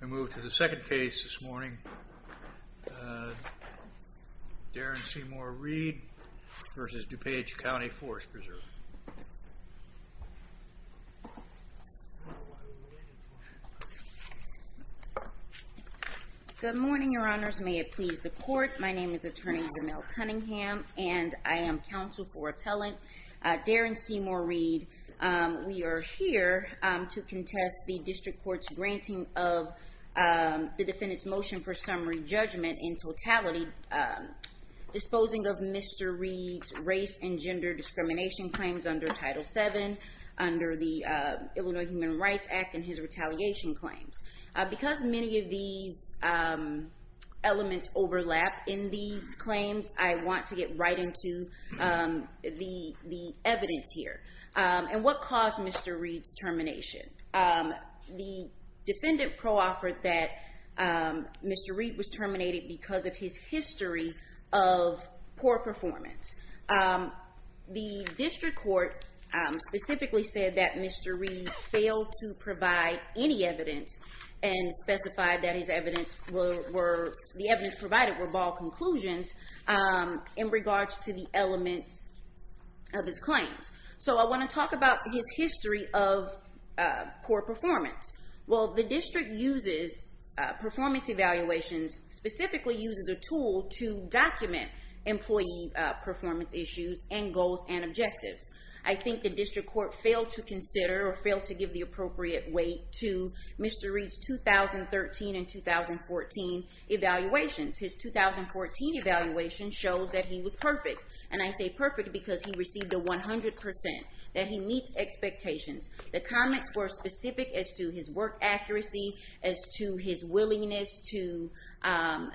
We move to the second case this morning. Daron Seymour-Reed v. DuPage County Forest Preserve. Good morning, Your Honors. May it please the Court. My name is Attorney Jamel Cunningham, and I am counsel for Appellant Daron Seymour-Reed. We are here to contest the District Court's granting of the defendant's motion for summary judgment in totality, disposing of Mr. Reed's race and gender discrimination claims under Title VII, under the Illinois Human Rights Act, and his retaliation claims. Because many of these elements overlap in these claims, I want to get right into the evidence here. And what caused Mr. Reed's termination? The defendant pro-offered that Mr. Reed was terminated because of his history of poor performance. The District Court specifically said that Mr. Reed failed to provide any evidence and specified that the evidence provided were bald conclusions in regards to the elements of his claims. So I want to talk about his history of poor performance. Well, the District uses performance evaluations, specifically uses a tool to document employee performance issues and goals and objectives. I think the District Court failed to consider or failed to give the appropriate weight to Mr. Reed's 2013 and 2014 evaluations. His 2014 evaluation shows that he was perfect, and I say perfect because he received a 100% that he meets expectations. The comments were specific as to his work accuracy, as to his willingness to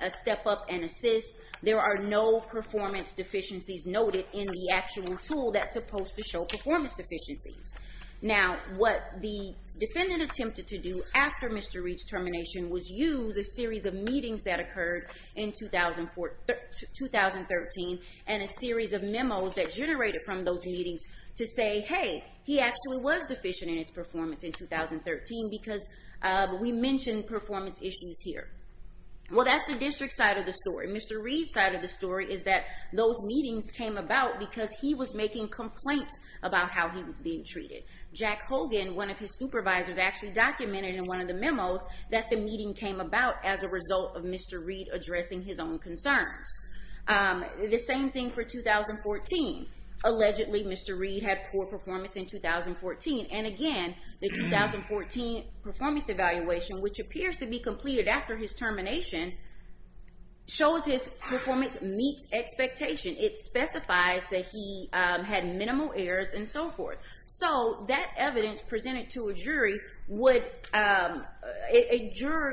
step up and assist. There are no performance deficiencies noted in the actual tool that's supposed to show performance deficiencies. Now, what the defendant attempted to do after Mr. Reed's termination was use a series of meetings that occurred in 2013 and a series of memos that generated from those meetings to say, hey, he actually was deficient in his performance in 2013 because we mentioned performance issues here. Well, that's the District's side of the story. Mr. Reed's side of the story is that those meetings came about because he was making complaints about how he was being treated. Jack Hogan, one of his supervisors, actually documented in one of the memos that the meeting came about as a result of Mr. Reed addressing his own concerns. The same thing for 2014. Allegedly, Mr. Reed had poor performance in 2014, and again, the 2014 performance evaluation, which appears to be completed after his termination, shows his performance meets expectations. It specifies that he had minimal errors and so forth. So that evidence presented to a jury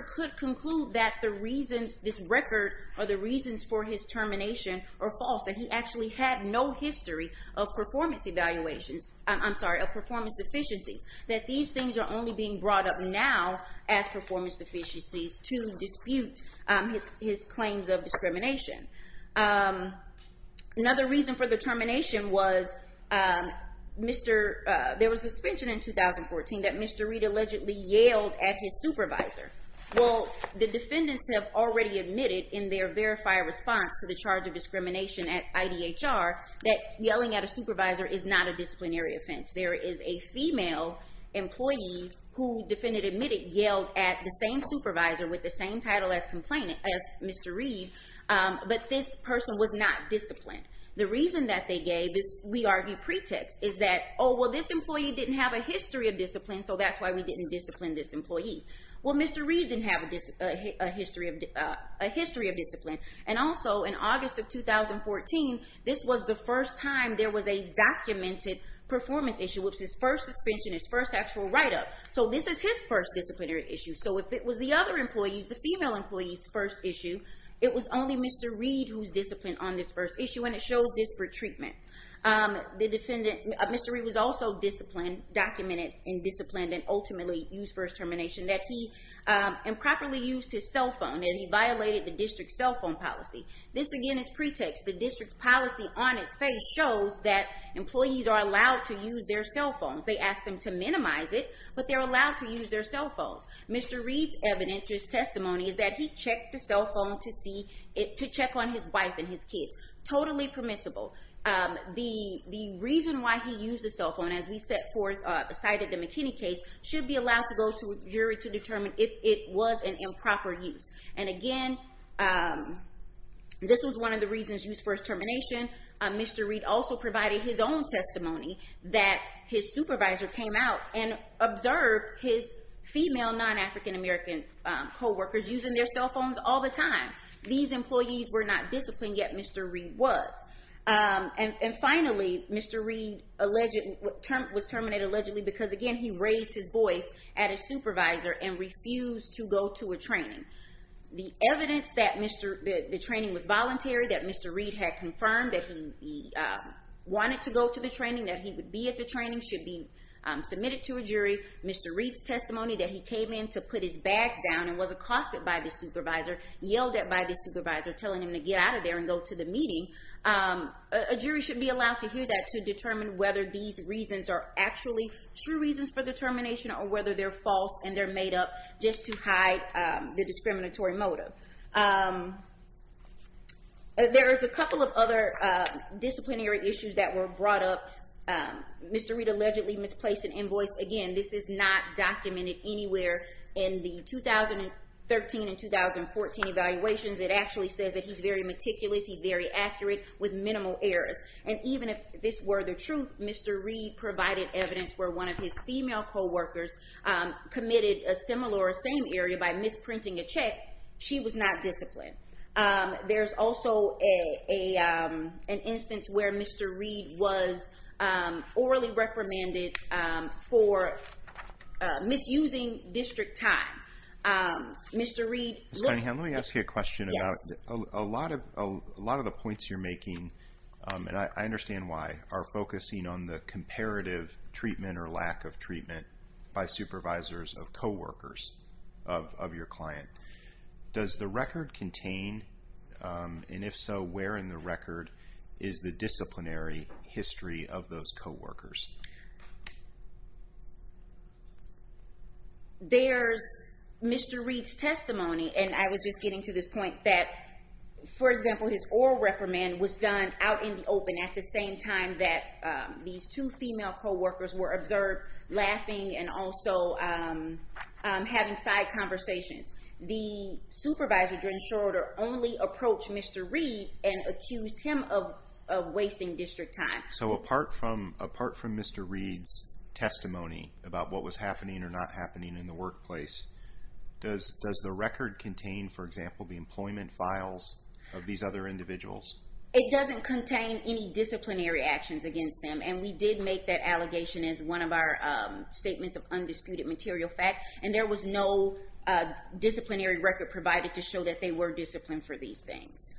could conclude that the reasons for his termination are false, that he actually had no history of performance deficiencies, that these things are only being brought up now as performance deficiencies to dispute his claims of discrimination. Another reason for the termination was there was a suspension in 2014 that Mr. Reed allegedly yelled at his supervisor. Well, the defendants have already admitted in their verified response to the charge of discrimination at IDHR that yelling at a supervisor is not a disciplinary offense. There is a female employee who defendant admitted yelled at the same supervisor with the same title as Mr. Reed, but this person was not disciplined. The reason that they gave this, we argue, pretext is that, oh, well, this employee didn't have a history of discipline, so that's why we didn't discipline this employee. Well, Mr. Reed didn't have a history of discipline. And also, in August of 2014, this was the first time there was a documented performance issue. It was his first suspension, his first actual write-up. So this is his first disciplinary issue. So if it was the other employees, the female employees' first issue, it was only Mr. Reed who was disciplined on this first issue, and it shows disparate treatment. Mr. Reed was also disciplined, documented and disciplined and ultimately used for his termination, that he improperly used his cell phone and he violated the district's cell phone policy. This, again, is pretext. The district's policy on its face shows that employees are allowed to use their cell phones. They ask them to minimize it, but they're allowed to use their cell phones. Mr. Reed's evidence, his testimony, is that he checked the cell phone to check on his wife and his kids. Totally permissible. The reason why he used the cell phone, as we set forth beside the McKinney case, should be allowed to go to a jury to determine if it was an improper use. And, again, this was one of the reasons used for his termination. Mr. Reed also provided his own testimony that his supervisor came out and observed his female non-African American co-workers using their cell phones all the time. These employees were not disciplined, yet Mr. Reed was. And, finally, Mr. Reed was terminated allegedly because, again, he raised his voice at his supervisor and refused to go to a training. The evidence that the training was voluntary, that Mr. Reed had confirmed that he wanted to go to the training, that he would be at the training, should be submitted to a jury. Mr. Reed's testimony that he came in to put his bags down and was accosted by the supervisor, yelled at by the supervisor, telling him to get out of there and go to the meeting, a jury should be allowed to hear that to determine whether these reasons are actually true reasons for the termination or whether they're false and they're made up just to hide the discriminatory motive. There is a couple of other disciplinary issues that were brought up. Mr. Reed allegedly misplaced an invoice. Again, this is not documented anywhere in the 2013 and 2014 evaluations. It actually says that he's very meticulous, he's very accurate with minimal errors. And even if this were the truth, Mr. Reed provided evidence where one of his female co-workers committed a similar or same area by misprinting a check, she was not disciplined. There's also an instance where Mr. Reed was orally reprimanded for misusing district time. Mr. Reed... Mr. Cunningham, let me ask you a question about a lot of the points you're making, and I understand why, are focusing on the comparative treatment or lack of treatment by supervisors of co-workers of your client. Does the record contain, and if so, where in the record is the disciplinary history of those co-workers? There's Mr. Reed's testimony, and I was just getting to this point that, for example, his oral reprimand was done out in the open at the same time that these two female co-workers were observed laughing and also having side conversations. The supervisor during the short order only approached Mr. Reed and accused him of wasting district time. So apart from Mr. Reed's testimony about what was happening or not happening in the workplace, does the record contain, for example, the employment files of these other individuals? It doesn't contain any disciplinary actions against them, and we did make that allegation as one of our statements of undisputed material fact, and there was no disciplinary record provided to show that they were disciplined for these things.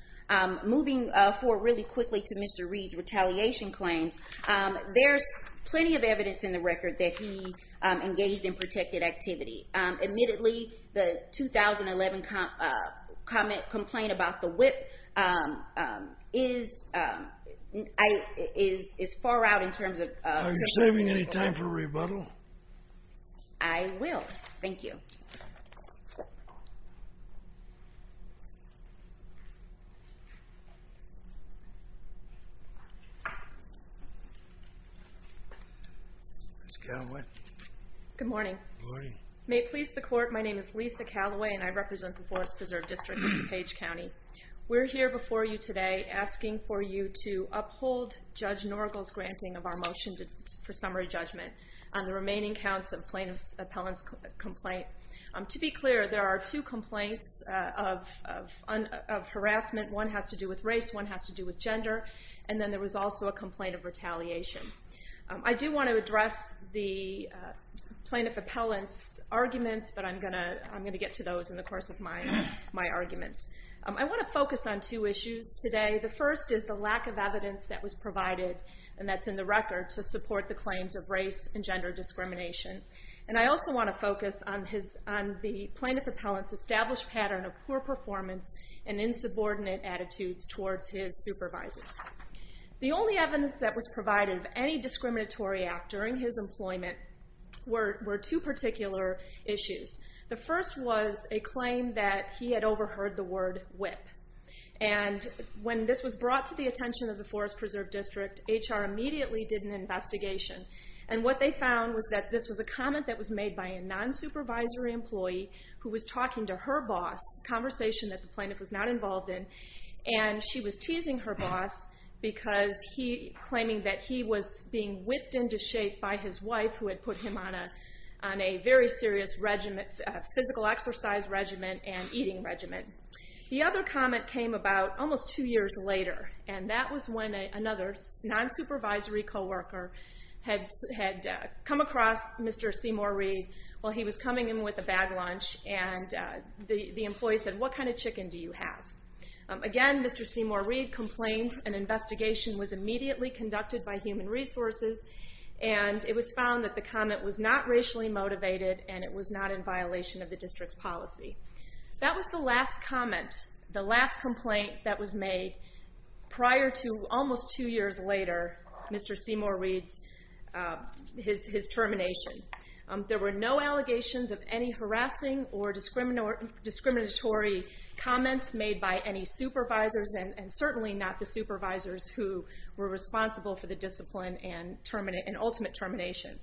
Moving forward really quickly to Mr. Reed's retaliation claims, there's plenty of evidence in the record that he engaged in protected activity. Admittedly, the 2011 comment, complaint about the whip is far out in terms of— Are you saving any time for rebuttal? I will. Thank you. Ms. Callaway. Good morning. Good morning. May it please the Court, my name is Lisa Callaway, and I represent the Forest Preserve District of DuPage County. We're here before you today asking for you to uphold Judge Norgal's granting of our motion for summary judgment on the remaining counts of plaintiff's appellant's complaint. To be clear, there are two complaints of harassment. One has to do with race, one has to do with gender, and then there was also a complaint of retaliation. I do want to address the plaintiff appellant's arguments, but I'm going to get to those in the course of my arguments. I want to focus on two issues today. The first is the lack of evidence that was provided, and that's in the record, to support the claims of race and gender discrimination. And I also want to focus on the plaintiff appellant's established pattern of poor performance and insubordinate attitudes towards his supervisors. The only evidence that was provided of any discriminatory act during his employment were two particular issues. The first was a claim that he had overheard the word whip. And when this was brought to the attention of the Forest Preserve District, HR immediately did an investigation. And what they found was that this was a comment that was made by a non-supervisory employee who was talking to her boss, a conversation that the plaintiff was not involved in, and she was teasing her boss claiming that he was being whipped into shape by his wife who had put him on a very serious physical exercise regimen and eating regimen. The other comment came about almost two years later, and that was when another non-supervisory co-worker had come across Mr. Seymour-Reed while he was coming in with a bag lunch, and the employee said, what kind of chicken do you have? Again, Mr. Seymour-Reed complained an investigation was immediately conducted by Human Resources, and it was found that the comment was not racially motivated and it was not in violation of the district's policy. That was the last comment, the last complaint that was made prior to almost two years later, Mr. Seymour-Reed's termination. There were no allegations of any harassing or discriminatory comments made by any supervisors, and certainly not the supervisors who were responsible for the discipline and ultimate termination.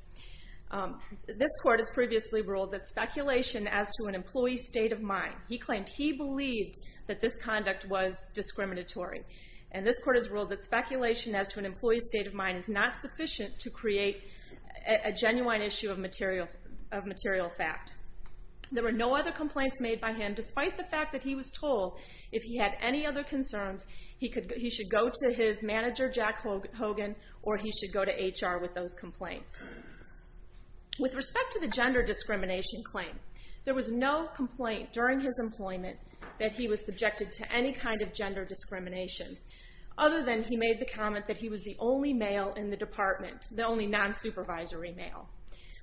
This court has previously ruled that speculation as to an employee's state of mind, he claimed he believed that this conduct was discriminatory, and this court has ruled that speculation as to an employee's state of mind is not sufficient to create a genuine issue of material fact. There were no other complaints made by him, despite the fact that he was told if he had any other concerns, he should go to his manager, Jack Hogan, or he should go to HR with those complaints. With respect to the gender discrimination claim, there was no complaint during his employment that he was subjected to any kind of gender discrimination, other than he made the comment that he was the only male in the department, the only non-supervisory male.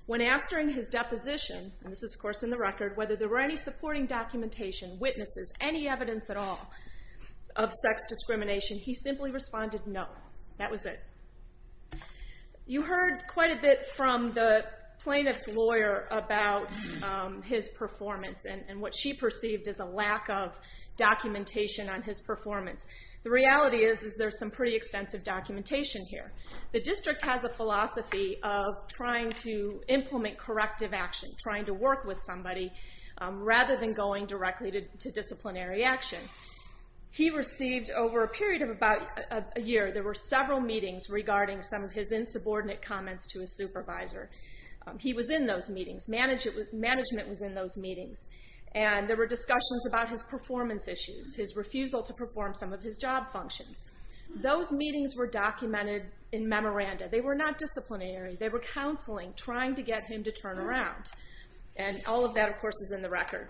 When asked during his deposition, and this is, of course, in the record, whether there were any supporting documentation, witnesses, any evidence at all of sex discrimination, he simply responded, no, that was it. You heard quite a bit from the plaintiff's lawyer about his performance and what she perceived as a lack of documentation on his performance. The reality is there's some pretty extensive documentation here. The district has a philosophy of trying to implement corrective action, trying to work with somebody, rather than going directly to disciplinary action. He received, over a period of about a year, there were several meetings regarding some of his insubordinate comments to his supervisor. He was in those meetings. Management was in those meetings. And there were discussions about his performance issues, his refusal to perform some of his job functions. Those meetings were documented in memoranda. They were not disciplinary. They were counseling, trying to get him to turn around. And all of that, of course, is in the record.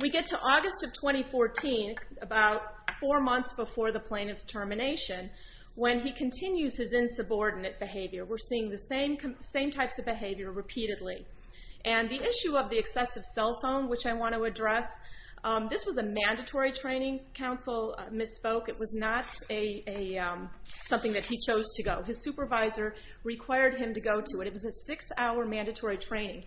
We get to August of 2014, about four months before the plaintiff's termination, when he continues his insubordinate behavior. We're seeing the same types of behavior repeatedly. And the issue of the excessive cell phone, which I want to address, this was a mandatory training. Counsel misspoke. It was not something that he chose to go. His supervisor required him to go to it. It was a six-hour mandatory training.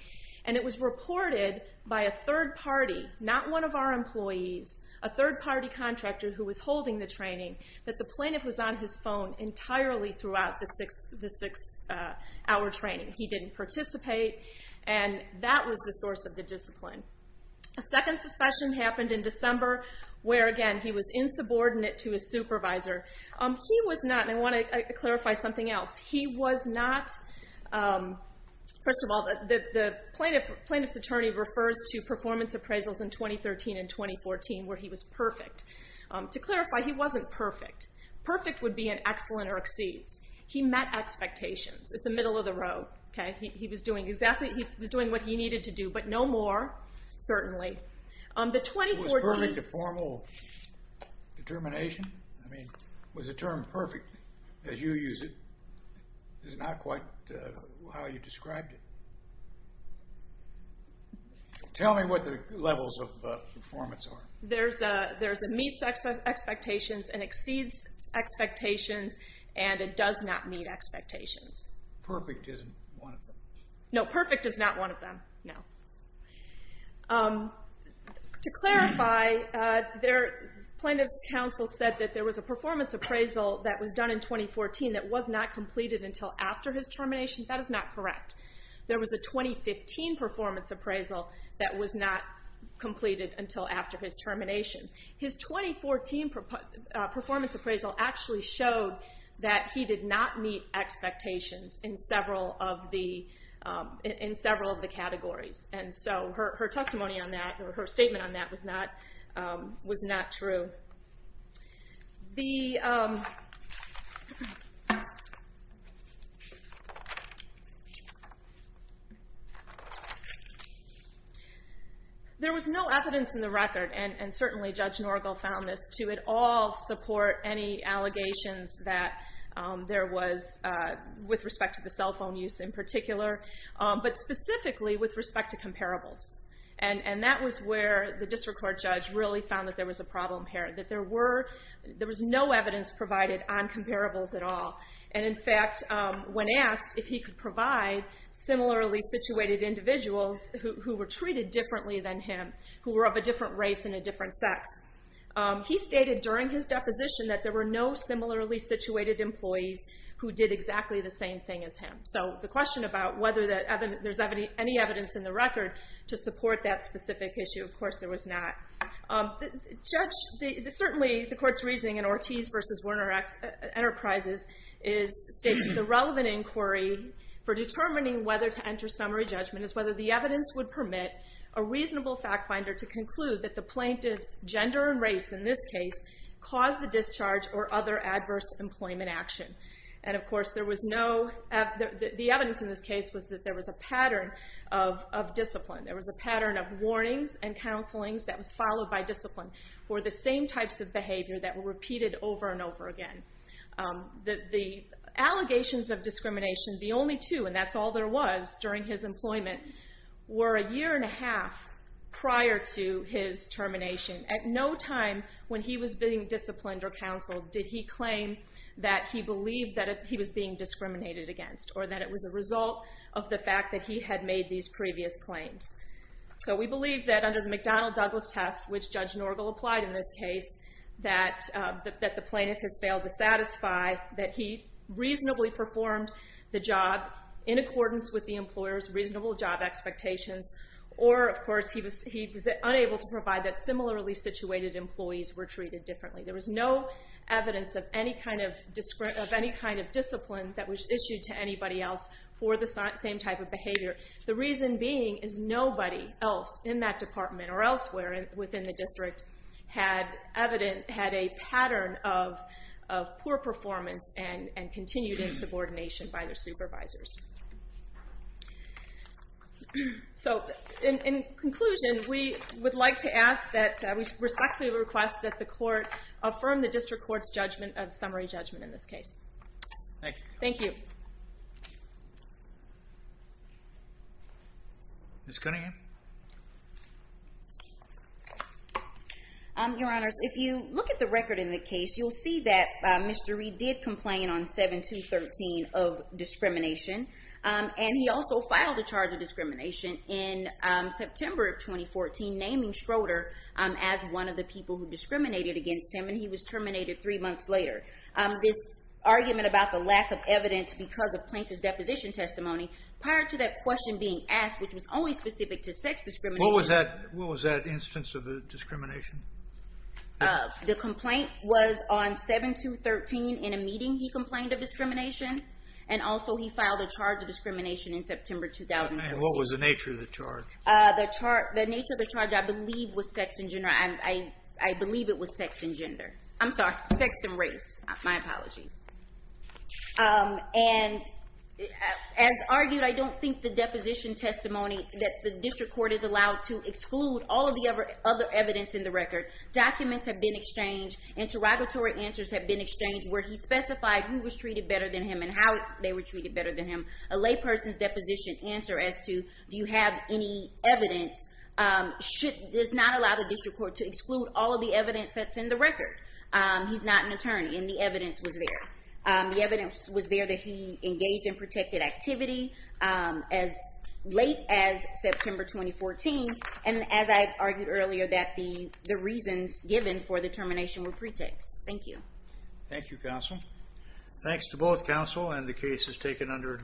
And it was reported by a third party, not one of our employees, a third party contractor who was holding the training, that the plaintiff was on his phone entirely throughout the six-hour training. He didn't participate. And that was the source of the discipline. A second suspicion happened in December, where, again, he was insubordinate to his supervisor. He was not, and I want to clarify something else. He was not, first of all, the plaintiff's attorney refers to performance appraisals in 2013 and 2014, where he was perfect. To clarify, he wasn't perfect. Perfect would be an excellent or exceeds. He met expectations. It's the middle of the road. He was doing what he needed to do, but no more, certainly. Was perfect a formal determination? I mean, was the term perfect, as you use it, is not quite how you described it. Tell me what the levels of performance are. There's a meets expectations and exceeds expectations, and a does not meet expectations. Perfect isn't one of them. No, perfect is not one of them, no. To clarify, the plaintiff's counsel said that there was a performance appraisal that was done in 2014 that was not completed until after his termination. That is not correct. There was a 2015 performance appraisal that was not completed until after his termination. His 2014 performance appraisal actually showed that he did not meet expectations in several of the categories. And so her testimony on that, or her statement on that, was not true. There was no evidence in the record, and certainly Judge Norgel found this, to at all support any allegations that there was with respect to the cell phone use in particular, but specifically with respect to comparables. And that was where the district court judge really found that there was a problem here, that there was no evidence provided on comparables at all. And in fact, when asked if he could provide similarly situated individuals who were treated differently than him, who were of a different race and a different sex, he stated during his deposition that there were no similarly situated employees who did exactly the same thing as him. So the question about whether there's any evidence in the record to support that specific issue, of course there was not. Certainly, the court's reasoning in Ortiz v. Werner Enterprises states that the relevant inquiry for determining whether to enter summary judgment is whether the evidence would permit a reasonable fact finder to conclude that the plaintiff's gender and race in this case caused the discharge or other adverse employment action. And of course, the evidence in this case was that there was a pattern of discipline. There was a pattern of warnings and counselings that was followed by discipline for the same types of behavior that were repeated over and over again. The allegations of discrimination, the only two, and that's all there was during his employment, were a year and a half prior to his termination. At no time when he was being disciplined or counseled did he claim that he believed that he was being discriminated against or that it was a result of the fact that he had made these previous claims. So we believe that under the McDonnell-Douglas test, which Judge Norgal applied in this case, that the plaintiff has failed to satisfy that he reasonably performed the job in accordance with the employer's reasonable job expectations, or, of course, he was unable to provide that similarly situated employees were treated differently. There was no evidence of any kind of discipline that was issued to anybody else for the same type of behavior. The reason being is nobody else in that department or elsewhere within the district had a pattern of poor performance and continued insubordination by their supervisors. So, in conclusion, we would like to ask that, we respectfully request that the court affirm the district court's summary judgment in this case. Thank you. Ms. Cunningham? Your Honors, if you look at the record in the case, you'll see that Mr. Reed did complain on 7213 of discrimination, and he also filed a charge of discrimination in September of 2014, naming Schroeder as one of the people who discriminated against him, and he was terminated three months later. This argument about the lack of evidence because of plaintiff's deposition testimony, prior to that question being asked, which was only specific to sex discrimination... What was that instance of discrimination? The complaint was on 7213. In a meeting, he complained of discrimination, and also he filed a charge of discrimination in September 2014. And what was the nature of the charge? The nature of the charge, I believe, was sex and gender. I believe it was sex and gender. I'm sorry, sex and race. My apologies. And, as argued, I don't think the deposition testimony that the district court is allowed to exclude all of the other evidence in the record. Documents have been exchanged. Interrogatory answers have been exchanged where he specified who was treated better than him and how they were treated better than him. A layperson's deposition answer as to, do you have any evidence, does not allow the district court to exclude all of the evidence that's in the record. He's not an attorney, and the evidence was there. The evidence was there that he engaged in protected activity as late as September 2014, and, as I argued earlier, that the reasons given for the termination were pretext. Thank you. Thank you, counsel. Thanks to both counsel, and the case is taken under advisory.